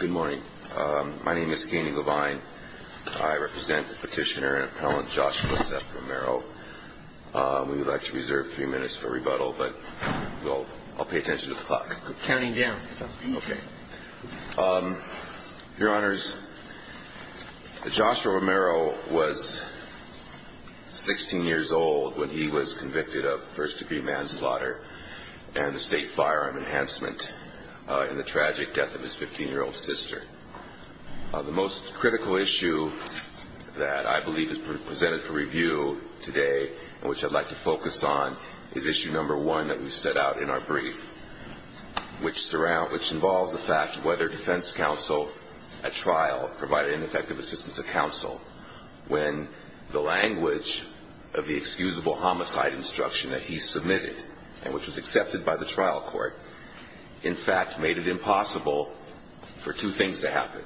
Good morning. My name is Keenan Levine. I represent the petitioner and appellant Joshua Seth Romero. We would like to reserve a few minutes for rebuttal, but I'll pay attention to the clock. Counting down. Okay. Your Honors, Joshua Romero was 16 years old when he was convicted of first-degree manslaughter and the state firearm enhancement in the tragic death of his 15-year-old sister. The most critical issue that I believe is presented for review today, and which I'd like to focus on, is issue number one that we set out in our brief, which involves the fact whether defense counsel at trial provided an effective assistance to counsel when the language of the excusable homicide instruction that he submitted, and which was accepted by the trial court, in fact made it impossible for two things to happen.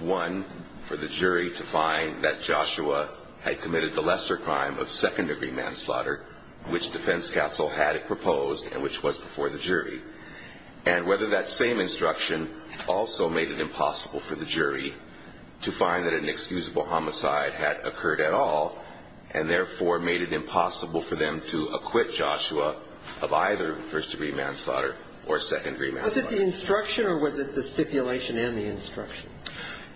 One, for the jury to find that Joshua had committed the lesser crime of second-degree manslaughter, which defense counsel had proposed and which was before the jury. And whether that same instruction also made it impossible for the jury to find that an excusable homicide had occurred at all, and therefore made it impossible for them to acquit Joshua of either first-degree manslaughter or second-degree manslaughter. Was it the instruction or was it the stipulation and the instruction?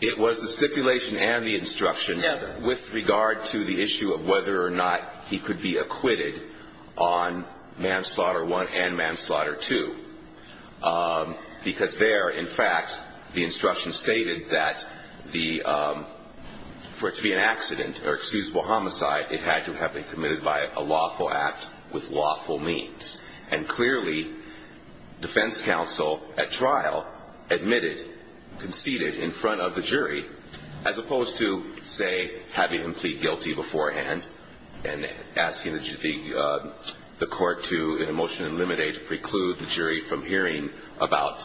It was the stipulation and the instruction with regard to the issue of whether or not he could be acquitted on manslaughter one and manslaughter two. Because there, in fact, the instruction stated that for it to be an accident or excusable homicide, it had to have been committed by a lawful act with lawful means. And clearly, defense counsel at trial admitted, conceded in front of the jury, as opposed to, say, having him plead guilty beforehand and asking the court to, in a motion in limine, preclude the jury from hearing about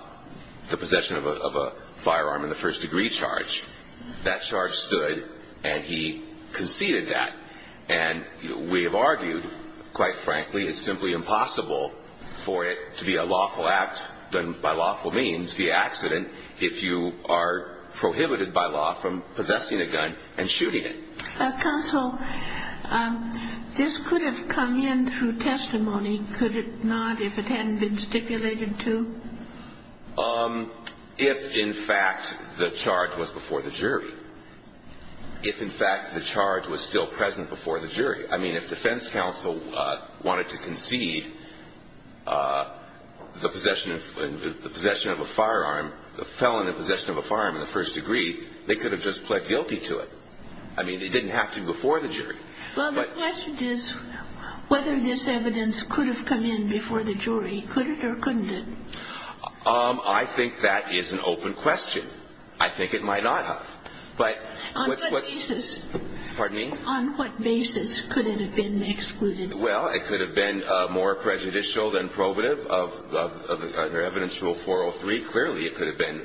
the possession of a firearm in the first-degree charge. That charge stood, and he conceded that. And we have argued, quite frankly, it's simply impossible for it to be a lawful act done by lawful means, the accident, if you are prohibited by law from possessing a gun and shooting it. Counsel, this could have come in through testimony, could it not, if it hadn't been stipulated to? If, in fact, the charge was before the jury. If, in fact, the charge was still present before the jury. I mean, if defense counsel wanted to concede the possession of a firearm, the felon in possession of a firearm in the first-degree, they could have just pled guilty to it. I mean, it didn't have to be before the jury. Well, the question is whether this evidence could have come in before the jury. Could it or couldn't it? I think that is an open question. I think it might not have. On what basis? Pardon me? On what basis could it have been excluded? Well, it could have been more prejudicial than probative under Evidence Rule 403. Clearly, it could have been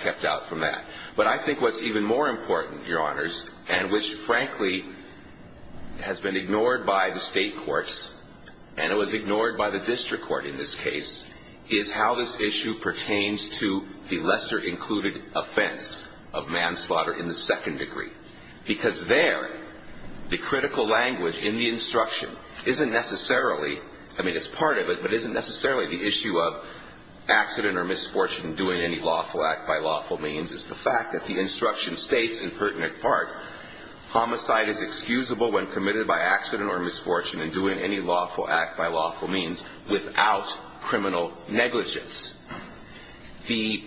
kept out from that. But I think what's even more important, Your Honors, and which, frankly, has been ignored by the state courts and it was ignored by the district court in this case, is how this issue pertains to the lesser-included offense of manslaughter in the second-degree. Because there, the critical language in the instruction isn't necessarily, I mean, it's part of it, but it isn't necessarily the issue of accident or misfortune, doing any lawful act by lawful means. It's the fact that the instruction states, in pertinent part, homicide is excusable when committed by accident or misfortune and doing any lawful act by lawful means without criminal negligence. The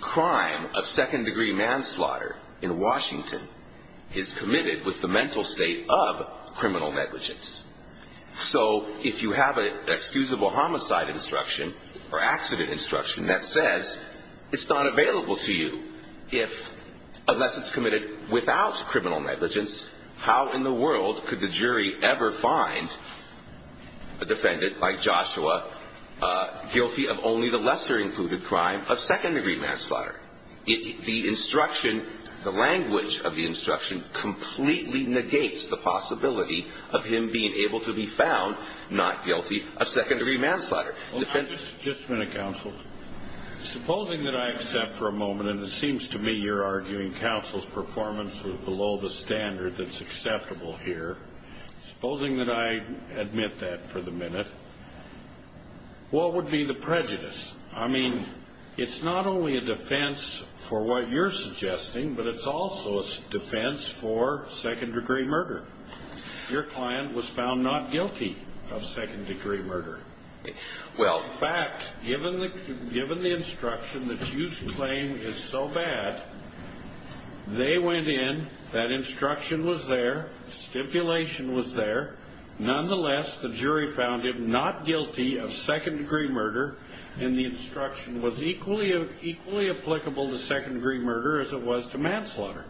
crime of second-degree manslaughter in Washington is committed with the mental state of criminal negligence. So if you have an excusable homicide instruction or accident instruction that says it's not available to you, unless it's committed without criminal negligence, how in the world could the jury ever find a defendant like Joshua guilty of only the lesser-included crime of second-degree manslaughter? The instruction, the language of the instruction, completely negates the possibility of him being able to be found not guilty of second-degree manslaughter. Just a minute, counsel. Supposing that I accept for a moment, and it seems to me you're arguing counsel's performance was below the standard that's acceptable here. Supposing that I admit that for the minute, what would be the prejudice? I mean, it's not only a defense for what you're suggesting, but it's also a defense for second-degree murder. Your client was found not guilty of second-degree murder. In fact, given the instruction that you claim is so bad, they went in, that instruction was there, stipulation was there. Nonetheless, the jury found him not guilty of second-degree murder, and the instruction was equally applicable to second-degree murder as it was to manslaughter.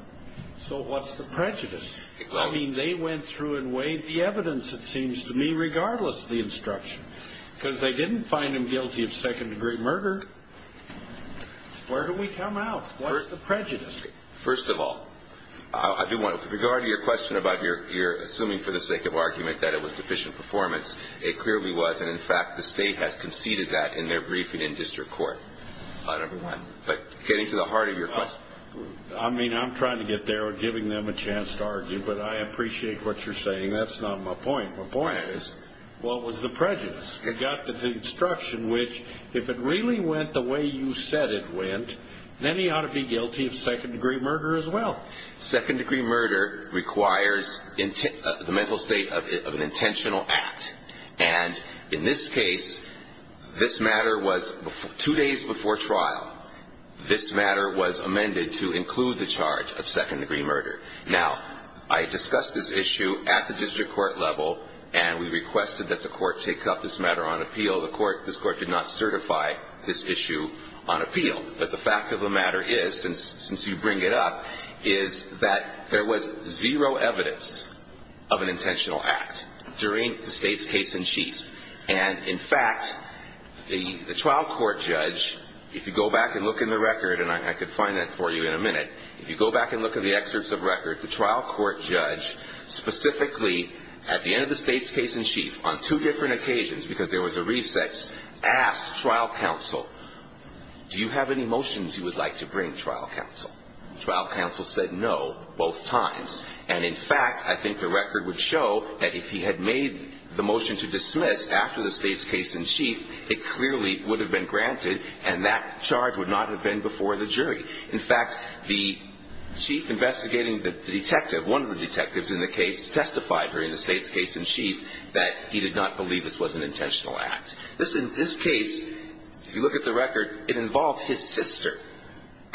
So what's the prejudice? I mean, they went through and weighed the evidence, it seems to me, regardless of the instruction, because they didn't find him guilty of second-degree murder. Where do we come out? What's the prejudice? First of all, I do want to, with regard to your question about your assuming for the sake of argument that it was deficient performance, it clearly was, and in fact the state has conceded that in their briefing in district court, number one. But getting to the heart of your question. I mean, I'm trying to get there, giving them a chance to argue, but I appreciate what you're saying. That's not my point. My point is, what was the prejudice? You got the instruction which, if it really went the way you said it went, then he ought to be guilty of second-degree murder as well. Second-degree murder requires the mental state of an intentional act. And in this case, this matter was, two days before trial, this matter was amended to include the charge of second-degree murder. Now, I discussed this issue at the district court level, and we requested that the court take up this matter on appeal. Although this court did not certify this issue on appeal. But the fact of the matter is, since you bring it up, is that there was zero evidence of an intentional act during the state's case-in-chief. And, in fact, the trial court judge, if you go back and look in the record, and I could find that for you in a minute, if you go back and look at the excerpts of record, the trial court judge specifically, at the end of the state's case-in-chief, on two different occasions, because there was a recess, asked trial counsel, do you have any motions you would like to bring, trial counsel? Trial counsel said no, both times. And, in fact, I think the record would show that if he had made the motion to dismiss after the state's case-in-chief, it clearly would have been granted, and that charge would not have been before the jury. In fact, the chief investigating the detective, one of the detectives in the case, that he did not believe this was an intentional act. This case, if you look at the record, it involved his sister.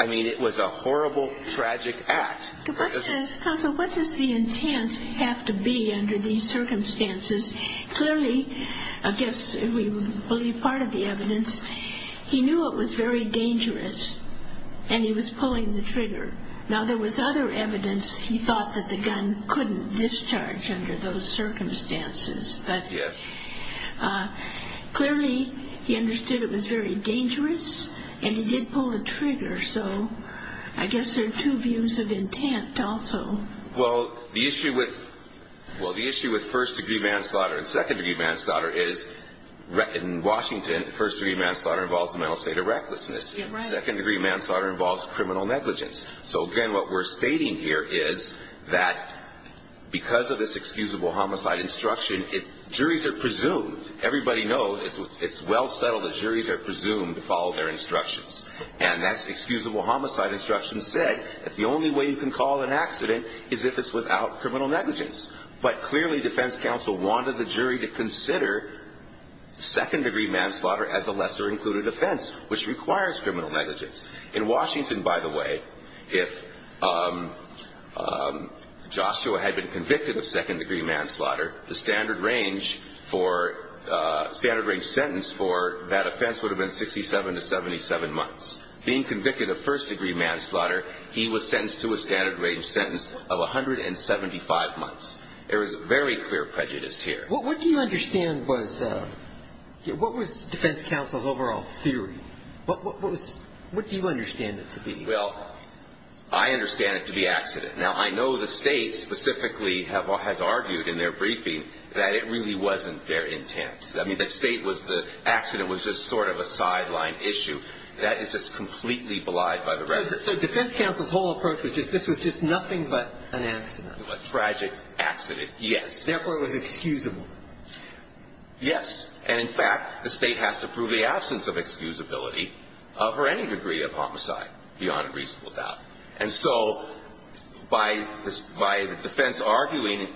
I mean, it was a horrible, tragic act. Counsel, what does the intent have to be under these circumstances? Clearly, I guess we believe part of the evidence. He knew it was very dangerous, and he was pulling the trigger. Now, there was other evidence he thought that the gun couldn't discharge under those circumstances. But clearly, he understood it was very dangerous, and he did pull the trigger. So I guess there are two views of intent also. Well, the issue with first-degree manslaughter and second-degree manslaughter is, in Washington, first-degree manslaughter involves a mental state of recklessness. Second-degree manslaughter involves criminal negligence. So, again, what we're stating here is that because of this excusable homicide instruction, juries are presumed. Everybody knows it's well settled that juries are presumed to follow their instructions. And that excusable homicide instruction said that the only way you can call an accident is if it's without criminal negligence. But clearly, defense counsel wanted the jury to consider second-degree manslaughter as a lesser-included offense, which requires criminal negligence. In Washington, by the way, if Joshua had been convicted of second-degree manslaughter, the standard-range sentence for that offense would have been 67 to 77 months. Being convicted of first-degree manslaughter, he was sentenced to a standard-range sentence of 175 months. There was very clear prejudice here. What do you understand was defense counsel's overall theory? What do you understand it to be? Well, I understand it to be accident. Now, I know the State specifically has argued in their briefing that it really wasn't their intent. I mean, the State was the accident was just sort of a sideline issue. That is just completely belied by the record. So defense counsel's whole approach was just this was just nothing but an accident. A tragic accident, yes. Therefore, it was excusable. Yes. And, in fact, the State has to prove the absence of excusability for any degree of homicide, beyond a reasonable doubt. And so by the defense arguing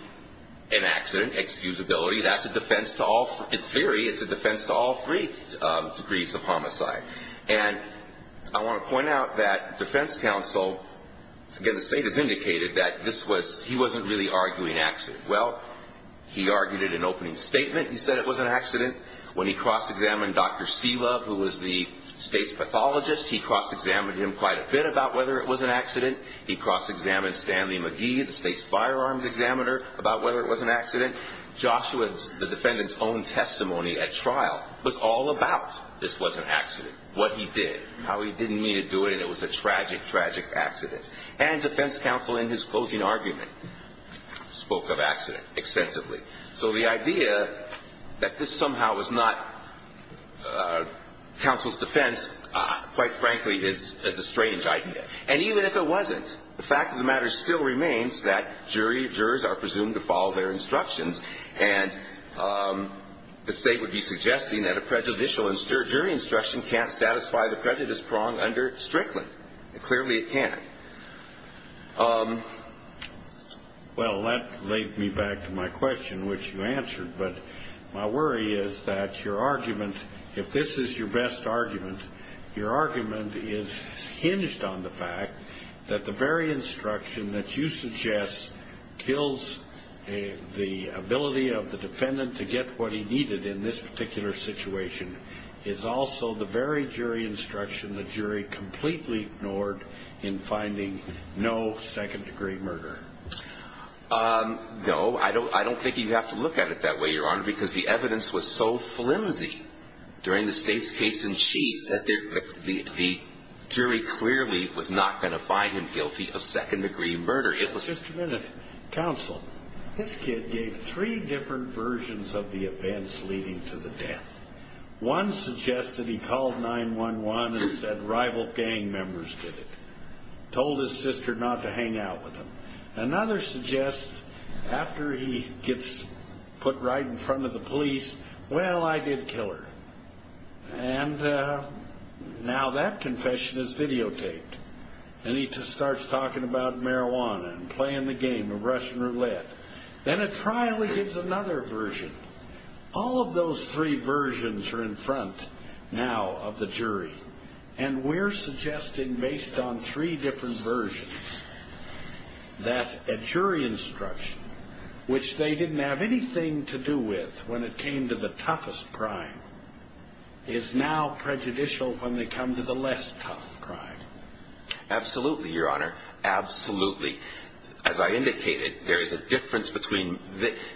an accident, excusability, that's a defense to all – in theory, it's a defense to all three degrees of homicide. And I want to point out that defense counsel – again, the State has indicated that this was – he wasn't really arguing accident. Well, he argued it in opening statement. He said it was an accident. When he cross-examined Dr. Selov, who was the State's pathologist, he cross-examined him quite a bit about whether it was an accident. He cross-examined Stanley McGee, the State's firearms examiner, about whether it was an accident. Joshua, the defendant's own testimony at trial, was all about this was an accident, what he did, how he didn't mean to do it, and it was a tragic, tragic accident. And defense counsel, in his closing argument, spoke of accident extensively. So the idea that this somehow was not counsel's defense, quite frankly, is a strange idea. And even if it wasn't, the fact of the matter still remains that jury jurors are presumed to follow their instructions. And the State would be suggesting that a prejudicial and stirred jury instruction can't satisfy the prejudice prong under Strickland. Clearly it can't. Well, that leads me back to my question, which you answered. But my worry is that your argument, if this is your best argument, your argument is hinged on the fact that the very instruction that you suggest kills the ability of the defendant to get what he needed in this particular situation is also the very jury instruction the jury completely ignored in finding no second-degree murder. No, I don't think you have to look at it that way, Your Honor, because the evidence was so flimsy during the State's case in chief that the jury clearly was not going to find him guilty of second-degree murder. Just a minute. Counsel, this kid gave three different versions of the events leading to the death. One suggests that he called 911 and said rival gang members did it, told his sister not to hang out with him. Another suggests after he gets put right in front of the police, well, I did kill her. And now that confession is videotaped, and he starts talking about marijuana and playing the game of Russian roulette. Then at trial he gives another version. All of those three versions are in front now of the jury, and we're suggesting based on three different versions that a jury instruction, which they didn't have anything to do with when it came to the toughest crime, is now prejudicial when they come to the less tough crime. Absolutely, Your Honor, absolutely. As I indicated, there is a difference between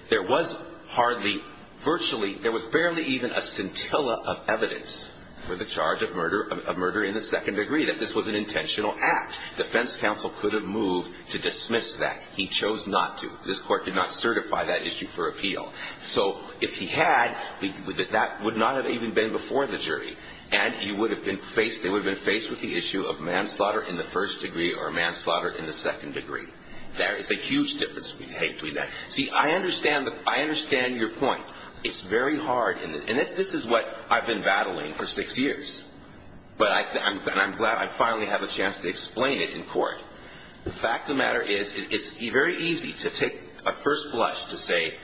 there was hardly virtually, there was barely even a scintilla of evidence for the charge of murder in the second degree, that this was an intentional act. Defense counsel could have moved to dismiss that. He chose not to. This court did not certify that issue for appeal. So if he had, that would not have even been before the jury, and they would have been faced with the issue of manslaughter in the first degree or manslaughter in the second degree. There is a huge difference between that. See, I understand your point. It's very hard, and this is what I've been battling for six years, and I'm glad I finally have a chance to explain it in court. The fact of the matter is it's very easy to take a first blush to say,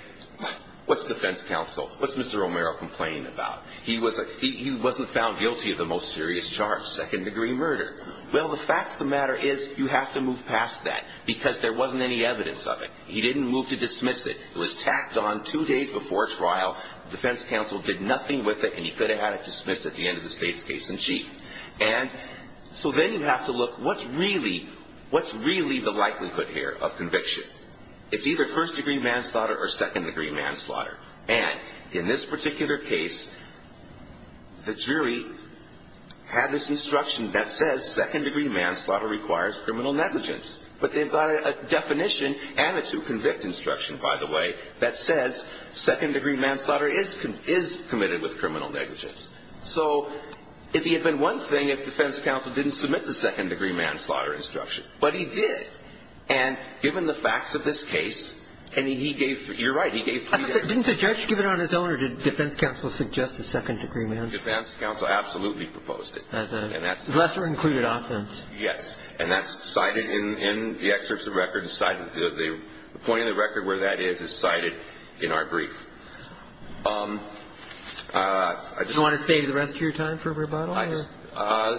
what's defense counsel, what's Mr. Romero complaining about? He wasn't found guilty of the most serious charge, second degree murder. Well, the fact of the matter is you have to move past that because there wasn't any evidence of it. He didn't move to dismiss it. It was tacked on two days before trial. Defense counsel did nothing with it, and he could have had it dismissed at the end of the state's case in chief. And so then you have to look, what's really the likelihood here of conviction? It's either first degree manslaughter or second degree manslaughter. And in this particular case, the jury had this instruction that says second degree manslaughter requires criminal negligence. But they've got a definition and a to-convict instruction, by the way, that says second degree manslaughter is committed with criminal negligence. So it would have been one thing if defense counsel didn't submit the second degree manslaughter instruction. But he did, and given the facts of this case, and he gave three. You're right, he gave three. Didn't the judge give it on his own, or did defense counsel suggest a second degree manslaughter? Defense counsel absolutely proposed it. As a lesser included offense. Yes. And that's cited in the excerpts of record. The point of the record where that is is cited in our brief. Do you want to save the rest of your time for rebuttal?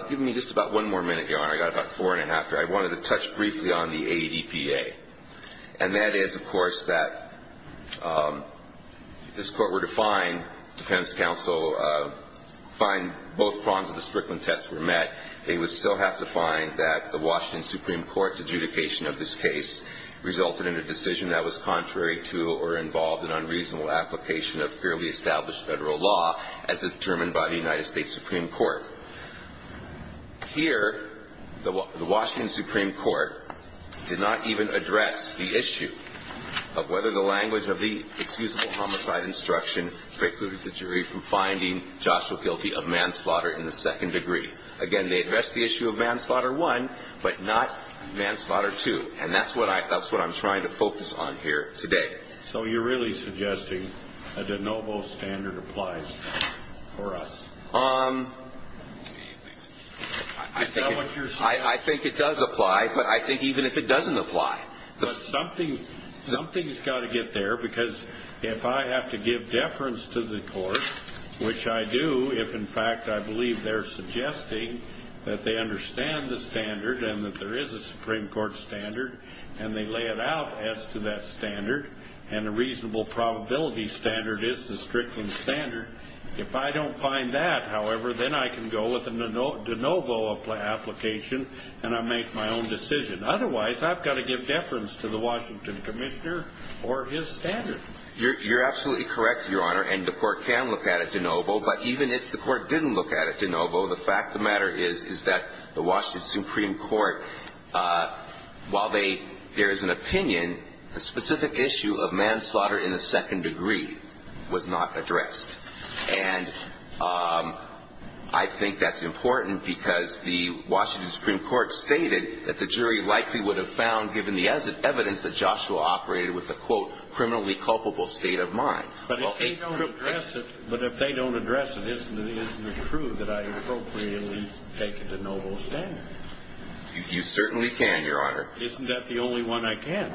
Give me just about one more minute, Your Honor. I've got about four and a half. I wanted to touch briefly on the ADPA. And that is, of course, that if this Court were to find, defense counsel, find both prongs of the Strickland test were met, they would still have to find that the Washington Supreme Court's adjudication of this case resulted in a decision that was contrary to or involved in unreasonable application of fairly established Federal law as determined by the United States Supreme Court. Here, the Washington Supreme Court did not even address the issue of whether the language of the excusable homicide instruction precluded the jury from finding Joshua guilty of manslaughter in the second degree. Again, they addressed the issue of manslaughter one, but not manslaughter two. And that's what I'm trying to focus on here today. So you're really suggesting a de novo standard applies for us? I think it does apply, but I think even if it doesn't apply. But something's got to get there, because if I have to give deference to the Court, which I do, if in fact I believe they're suggesting that they understand the standard and that there is a Supreme Court standard and they lay it out as to that standard and a reasonable probability standard is the Strickland standard, if I don't find that, however, then I can go with a de novo application and I make my own decision. Otherwise, I've got to give deference to the Washington commissioner or his standard. You're absolutely correct, Your Honor, and the Court can look at it de novo. But even if the Court didn't look at it de novo, the fact of the matter is, is that the Washington Supreme Court, while there is an opinion, the specific issue of manslaughter in the second degree was not addressed. And I think that's important because the Washington Supreme Court stated that the jury likely would have found, given the evidence, that Joshua operated with a, quote, criminally culpable state of mind. But if they don't address it, isn't it true that I appropriately take a de novo standard? You certainly can, Your Honor. Isn't that the only one I can?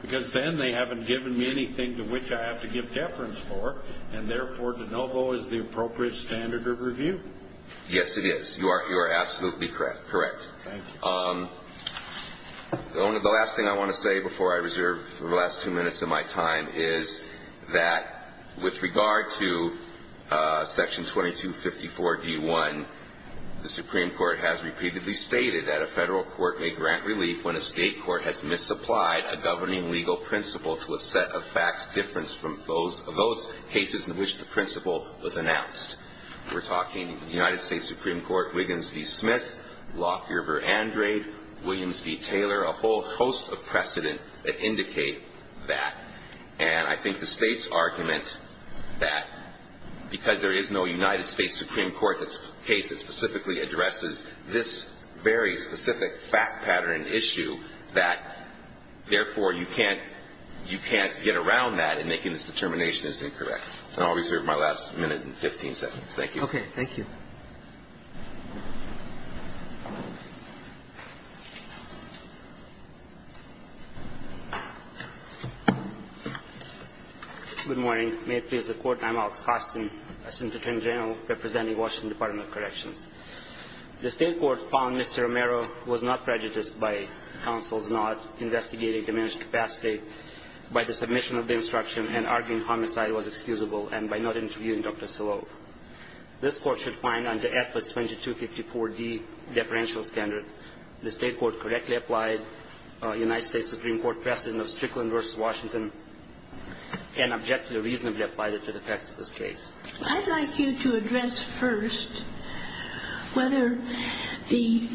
Because then they haven't given me anything to which I have to give deference for, and therefore de novo is the appropriate standard of review. Yes, it is. You are absolutely correct. Thank you. The last thing I want to say before I reserve the last two minutes of my time is that with regard to Section 2254d-1, the Supreme Court has repeatedly stated that a federal court may grant relief when a state court has misapplied a governing legal principle to a set of facts different from those cases in which the principle was announced. We're talking United States Supreme Court Wiggins v. Smith, Lockyer v. Andrade, Williams v. Taylor, a whole host of precedent that indicate that. And I think the state's argument that because there is no United States Supreme Court case that specifically addresses this very specific fact pattern and issue, that therefore you can't get around that in making this determination as incorrect. And I'll reserve my last minute and 15 seconds. Thank you. Okay. Thank you. Good morning. May it please the Court. I'm Alex Hostin, Assistant Attorney General representing Washington Department of Corrections. The state court found Mr. Romero was not prejudiced by counsel's not investigating diminished capacity by the submission of the instruction and arguing homicide was excusable and by not interviewing Dr. Siloam. This Court should find under AFLAS 2254D deferential standard, the state court correctly applied United States Supreme Court precedent of Strickland v. Washington and objectively reasonably applied it to the facts of this case. I'd like you to address first whether the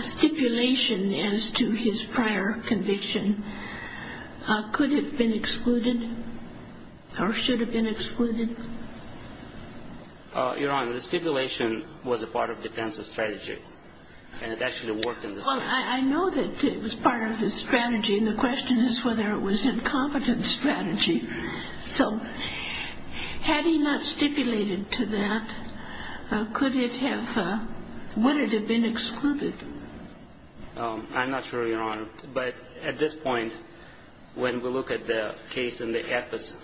stipulation as to his prior conviction could have been excluded or should have been excluded. Your Honor, the stipulation was a part of defense's strategy. And it actually worked in this case. Well, I know that it was part of his strategy. And the question is whether it was incompetent strategy. So had he not stipulated to that, could it have been excluded? I'm not sure, Your Honor. But at this point, when we look at the case in the AFLAS,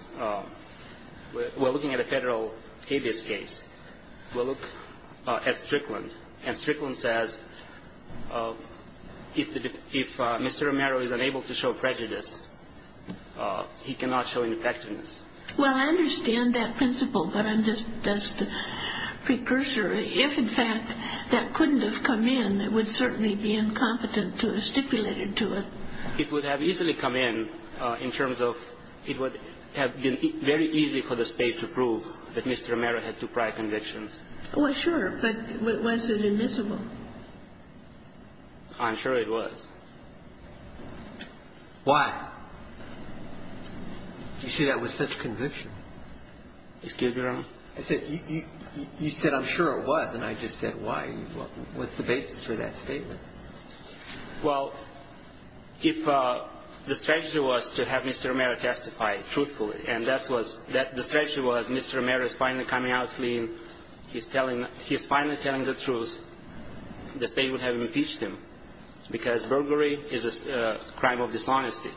we're looking at a federal habeas case. We'll look at Strickland. And Strickland says if Mr. Romero is unable to show prejudice, he cannot show ineffectiveness. Well, I understand that principle, but I'm just a precursor. If, in fact, that couldn't have come in, it would certainly be incompetent to have stipulated to it. It would have easily come in in terms of it would have been very easy for the State to prove that Mr. Romero had two prior convictions. Well, sure. But was it admissible? I'm sure it was. You see, that was such conviction. Excuse me, Your Honor? I said, you said, I'm sure it was, and I just said, why? What's the basis for that statement? Well, if the strategy was to have Mr. Romero testify truthfully, and that's what's the strategy was Mr. Romero is finally coming out clean, he's finally telling the truth, the State would have impeached him because burglary is a crime of dishonesty.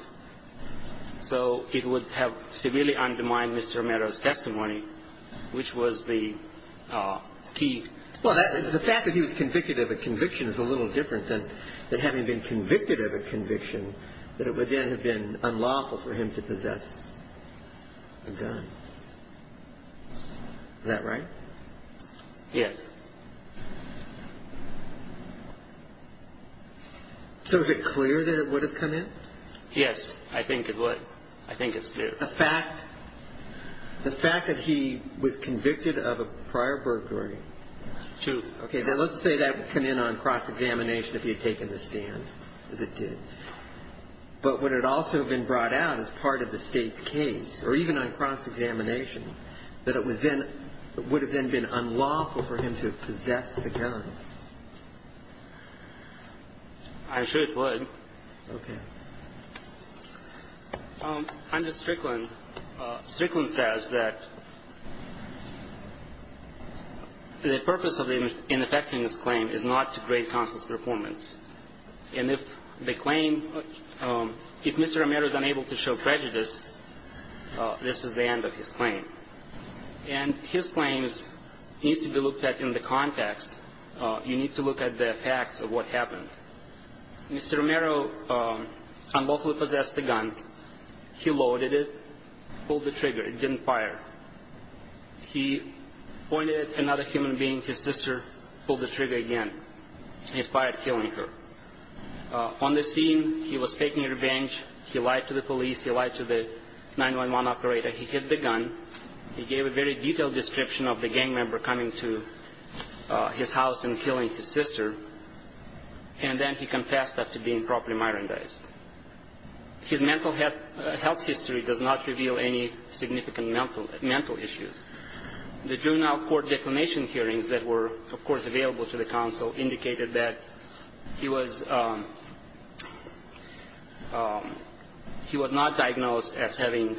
So it would have severely undermined Mr. Romero's testimony, which was the key. Well, the fact that he was convicted of a conviction is a little different than having been convicted of a conviction, that it would then have been unlawful for him to possess a gun. Is that right? Yes. So is it clear that it would have come in? Yes, I think it would. I think it's clear. The fact that he was convicted of a prior burglary? True. Okay. Now, let's say that would come in on cross-examination if he had taken the stand, as it did. But would it also have been brought out as part of the State's case, or even on cross-examination, that it would have then been unlawful for him to possess the gun? I'm sure it would. Okay. Under Strickland, Strickland says that the purpose of the ineffectiveness claim is not to grade counsel's performance. And if the claim, if Mr. Romero is unable to show prejudice, this is the end of his claim. And his claims need to be looked at in the context. You need to look at the facts of what happened. Mr. Romero unlawfully possessed the gun. He loaded it, pulled the trigger. It didn't fire. He pointed at another human being, his sister, pulled the trigger again. He fired, killing her. On the scene, he was taking revenge. He lied to the police. He lied to the 911 operator. He hid the gun. He gave a very detailed description of the gang member coming to his house and killing his sister. And then he confessed after being properly myrandized. His mental health history does not reveal any significant mental issues. The juvenile court declination hearings that were, of course, available to the counsel indicated that he was not diagnosed as having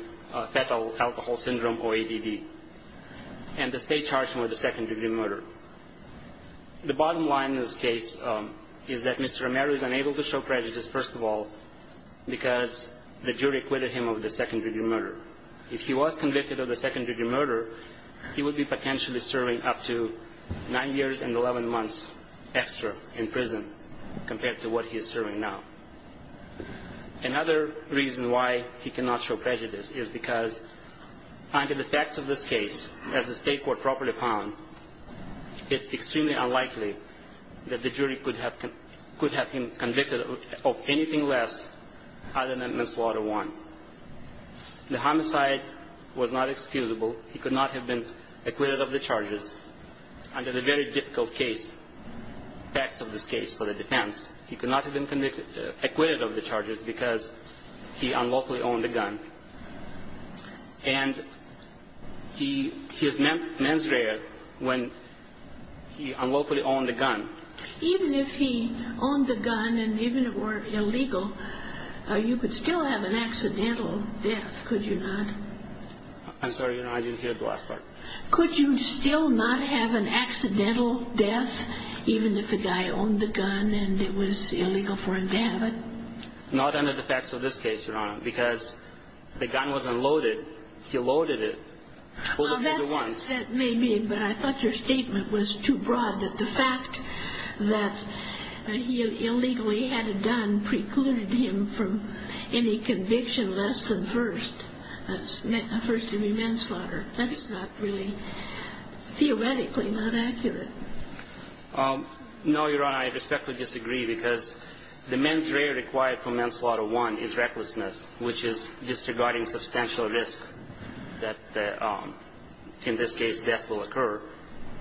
fatal alcohol syndrome or ADD, and the state charged him with a second-degree murder. The bottom line in this case is that Mr. Romero is unable to show prejudice, first of all, because the jury acquitted him of the second-degree murder. If he was convicted of the second-degree murder, he would be potentially serving up to nine years and 11 months extra in prison compared to what he is serving now. Another reason why he cannot show prejudice is because under the facts of this case, as the state court properly found, it's extremely unlikely that the jury could have him convicted of anything less other than manslaughter one. The homicide was not excusable. He could not have been acquitted of the charges under the very difficult facts of this case for the defense. He could not have been acquitted of the charges because he unlawfully owned the gun. And he is mens rea when he unlawfully owned the gun. Even if he owned the gun and even it were illegal, you could still have an accidental death, could you not? I'm sorry, Your Honor. I didn't hear the last part. Could you still not have an accidental death even if the guy owned the gun and it was illegal for him to have it? Not under the facts of this case, Your Honor, because the gun was unloaded. He loaded it. Well, that may mean, but I thought your statement was too broad that the fact that he illegally had it done precluded him from any conviction less than first, first degree manslaughter. That's not really theoretically not accurate. No, Your Honor, I respectfully disagree because the mens rea required for manslaughter one is recklessness, which is disregarding substantial risk that in this case death will occur.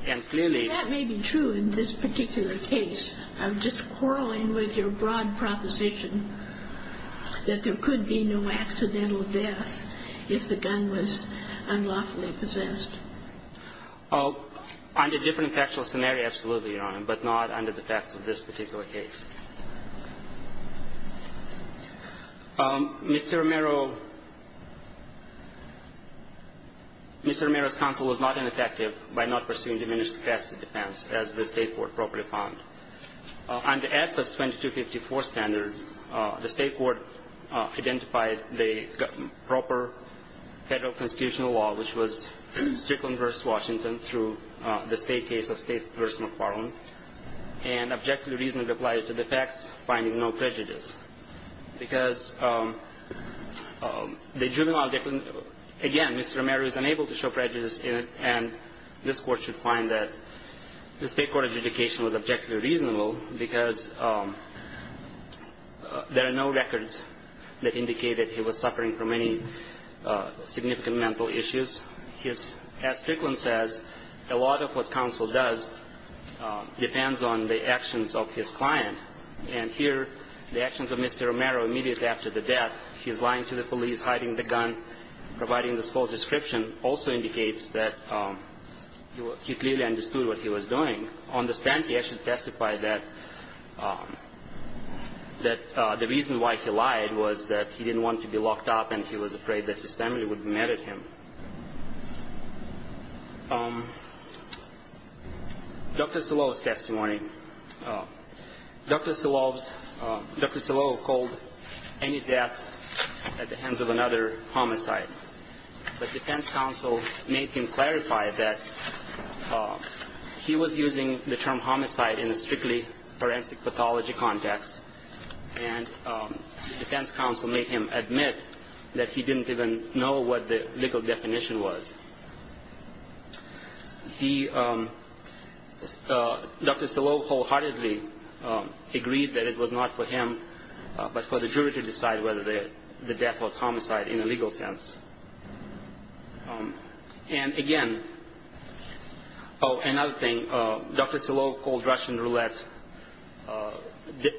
And clearly that may be true in this particular case. I'm just quarreling with your broad proposition that there could be no accidental death if the gun was unlawfully possessed. Under different factual scenario, absolutely, Your Honor, but not under the facts of this particular case. Mr. Romero, Mr. Romero's counsel was not ineffective by not pursuing diminished capacity defense, as the State court properly found. Under AFIS 2254 standard, the State court identified the proper Federal constitutional law, which was Strickland v. Washington through the State case of State v. McFarland, and objectively reasonably applied it to the facts, finding no prejudice. Because the juvenile, again, Mr. Romero is unable to show prejudice in it, and this Court should find that the State court's adjudication was objectively reasonable because there are no records that indicate that he was suffering from any significant mental issues. As Strickland says, a lot of what counsel does depends on the actions of his client. And here the actions of Mr. Romero immediately after the death, he's lying to the police, hiding the gun, providing this false description, also indicates that he clearly understood what he was doing. On the stand, he actually testified that the reason why he lied was that he didn't want to be locked up, and he was afraid that his family would be mad at him. Dr. Silovo's testimony. Dr. Silovo called any death at the hands of another homicide. The defense counsel made him clarify that he was using the term homicide in a strictly forensic pathology context, and the defense counsel made him admit that he didn't even know what the legal definition was. He, Dr. Silovo wholeheartedly agreed that it was not for him but for the jury to decide whether the death was homicide in a legal sense. And again, another thing, Dr. Silovo called Russian roulette,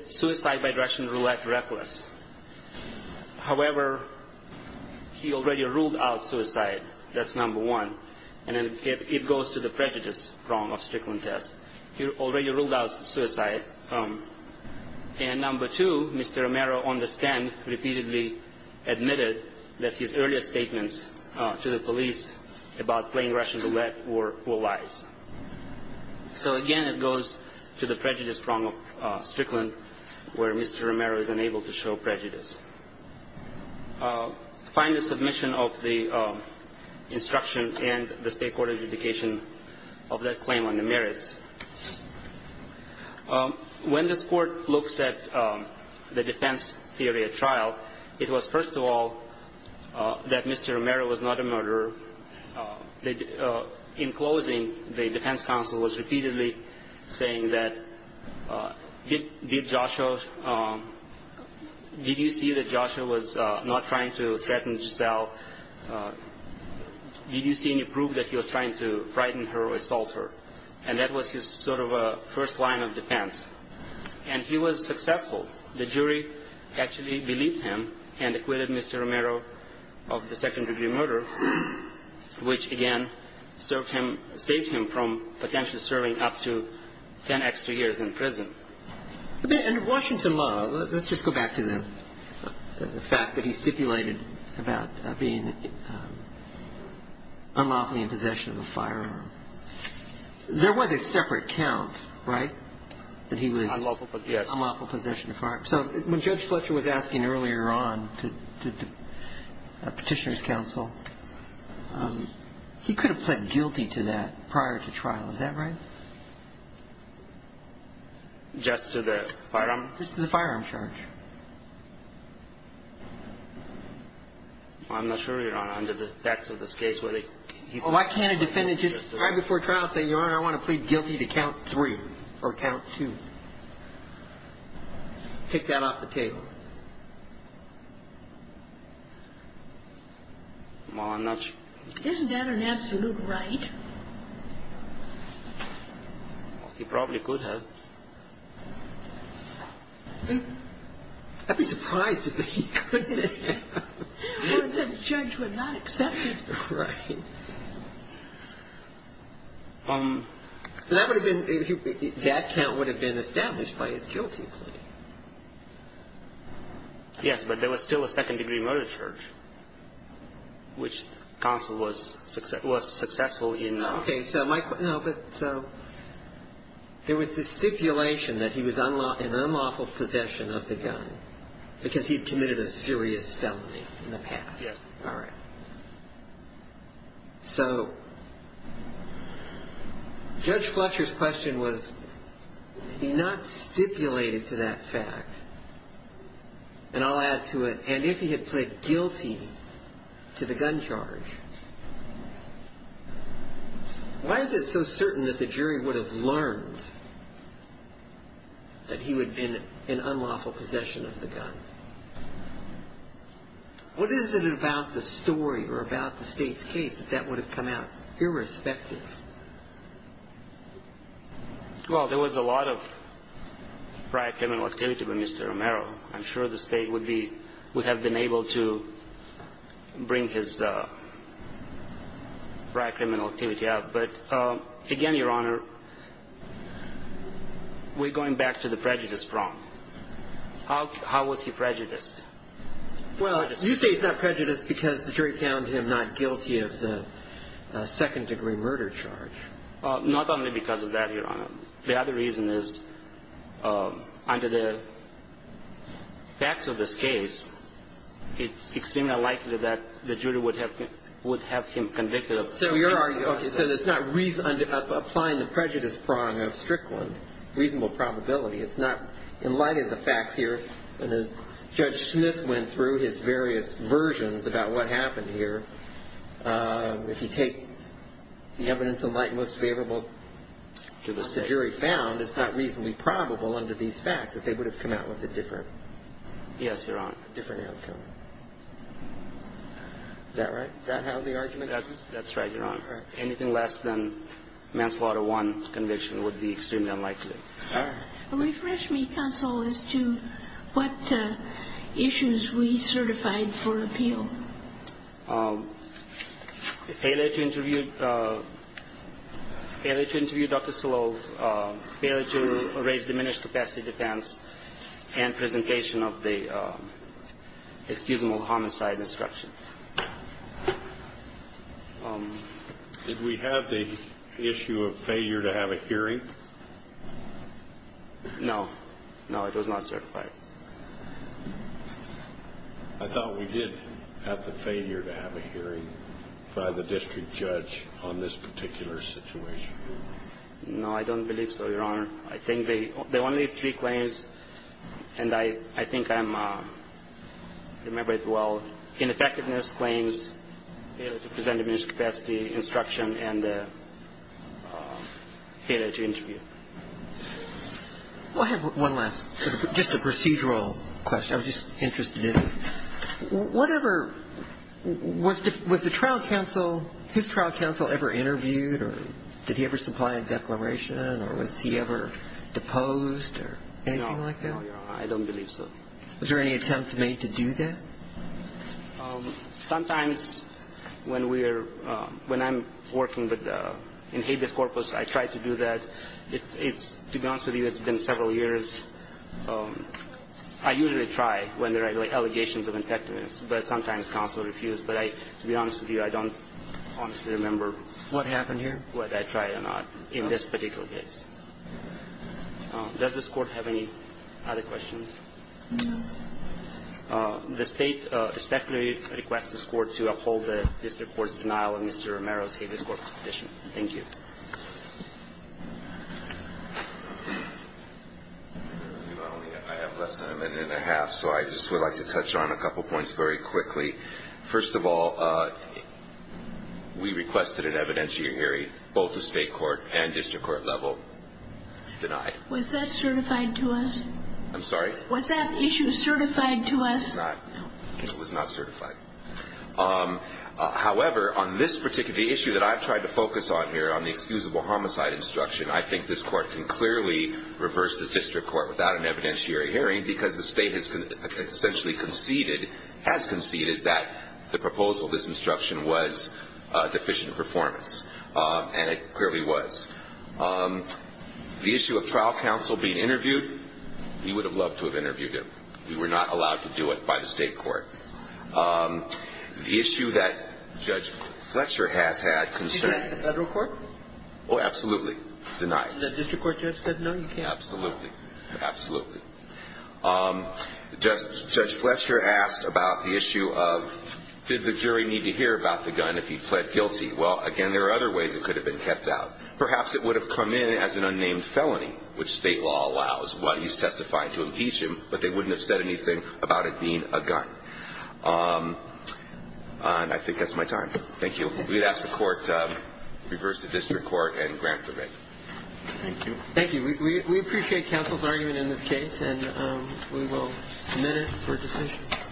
suicide by Russian roulette reckless. However, he already ruled out suicide. That's number one. And it goes to the prejudice prong of Strickland's test. He already ruled out suicide. And number two, Mr. Romero on the stand repeatedly admitted that his earlier statements to the police about playing Russian roulette were lies. So again, it goes to the prejudice prong of Strickland where Mr. Romero is unable to show prejudice. Find the submission of the instruction and the state court adjudication of that claim on the merits. When this court looks at the defense theory at trial, it was, first of all, that Mr. Romero was not a murderer. In closing, the defense counsel was repeatedly saying that, did Joshua, did you see that Joshua was not trying to threaten Giselle? Did you see any proof that he was trying to frighten her or assault her? And that was his sort of first line of defense. And he was successful. The jury actually believed him and acquitted Mr. Romero of the second-degree murder, which again saved him from potentially serving up to ten extra years in prison. In Washington law, let's just go back to the fact that he stipulated about being unlawfully in possession of a firearm. There was a separate count, right, that he was unlawfully in possession of a firearm. So when Judge Fletcher was asking earlier on to petitioner's counsel, he could have pled guilty to that prior to trial. Is that right? Just to the firearm? Just to the firearm charge. I'm not sure, Your Honor, under the facts of this case, whether he could have pled guilty to that prior to trial. Why can't a defendant just right before trial say, Your Honor, I want to plead guilty to count three or count two? Take that off the table. Well, I'm not sure. Isn't that an absolute right? He probably could have. I'd be surprised if he couldn't have. Well, then the judge would not accept it. Right. That count would have been established by his guilty plea. Yes, but there was still a second-degree murder charge, which counsel was successful in. Okay. So there was this stipulation that he was in unlawful possession of the gun because he had committed a serious felony in the past. Yes. All right. So Judge Fletcher's question was, he not stipulated to that fact, and I'll add to it, and if he had pled guilty to the gun charge, why is it so certain that the jury would have learned that he would have been in unlawful possession of the gun? What is it about the story or about the State's case that that would have come out irrespective? Well, there was a lot of prior criminal activity by Mr. Romero. I'm sure the State would have been able to bring his prior criminal activity up. But, again, Your Honor, we're going back to the prejudice prong. How was he prejudiced? Well, you say he's not prejudiced because the jury found him not guilty of the second-degree murder charge. Not only because of that, Your Honor. The other reason is, under the facts of this case, it's extremely unlikely that the jury would have him convicted. So it's not applying the prejudice prong of Strickland, reasonable probability. It's not in light of the facts here. And as Judge Smith went through his various versions about what happened here, if you take the evidence in light most favorable to the jury found, it's not reasonably probable under these facts that they would have come out with a different outcome. Yes, Your Honor. Is that right? Does that have the argument? That's right, Your Honor. Anything less than manslaughter one conviction would be extremely unlikely. All right. Refresh me, counsel, as to what issues we certified for appeal. Failure to interview Dr. Sloan, failure to raise diminished capacity defense, and presentation of the excusable homicide instruction. Did we have the issue of failure to have a hearing? No. No, it was not certified. I thought we did have the failure to have a hearing by the district judge on this particular situation. No, I don't believe so, Your Honor. I think the only three claims, and I think I'm remembered well, ineffectiveness claims, failure to present diminished capacity instruction, and failure to interview. Well, I have one last, just a procedural question I was just interested in. Whatever was the trial counsel, his trial counsel ever interviewed, or did he ever supply a declaration, or was he ever deposed, or anything like that? No, Your Honor, I don't believe so. Was there any attempt made to do that? Sometimes when I'm working in habeas corpus, I try to do that. To be honest with you, it's been several years. I usually try when there are allegations of ineffectiveness, but sometimes counsel refused. But to be honest with you, I don't honestly remember. What happened here? Whether I tried or not in this particular case. Does this Court have any other questions? No. The State specifically requests this Court to uphold the district court's denial of Mr. Romero's habeas corpus petition. Thank you. I have less than a minute and a half, so I just would like to touch on a couple points very quickly. First of all, we requested an evidentiary hearing, both the State court and district court level denied. Was that certified to us? I'm sorry? Was that issue certified to us? It was not. It was not certified. However, on this particular issue that I've tried to focus on here, on the excusable homicide instruction, I think this Court can clearly reverse the district court without an evidentiary hearing because the State has essentially conceded, has conceded, that the proposal of this instruction was deficient in performance. And it clearly was. The issue of trial counsel being interviewed, we would have loved to have interviewed him. We were not allowed to do it by the State court. The issue that Judge Fletcher has had concerns. Did you ask the federal court? Oh, absolutely. Denied. Did the district court judge say no? Absolutely. Absolutely. Judge Fletcher asked about the issue of did the jury need to hear about the gun if he pled guilty? Well, again, there are other ways it could have been kept out. Perhaps it would have come in as an unnamed felony, which State law allows while he's testifying to impeach him, but they wouldn't have said anything about it being a gun. And I think that's my time. Thank you. We'd ask the court to reverse the district court and grant the writ. Thank you. Thank you. We appreciate counsel's argument in this case, and we will submit it for decision.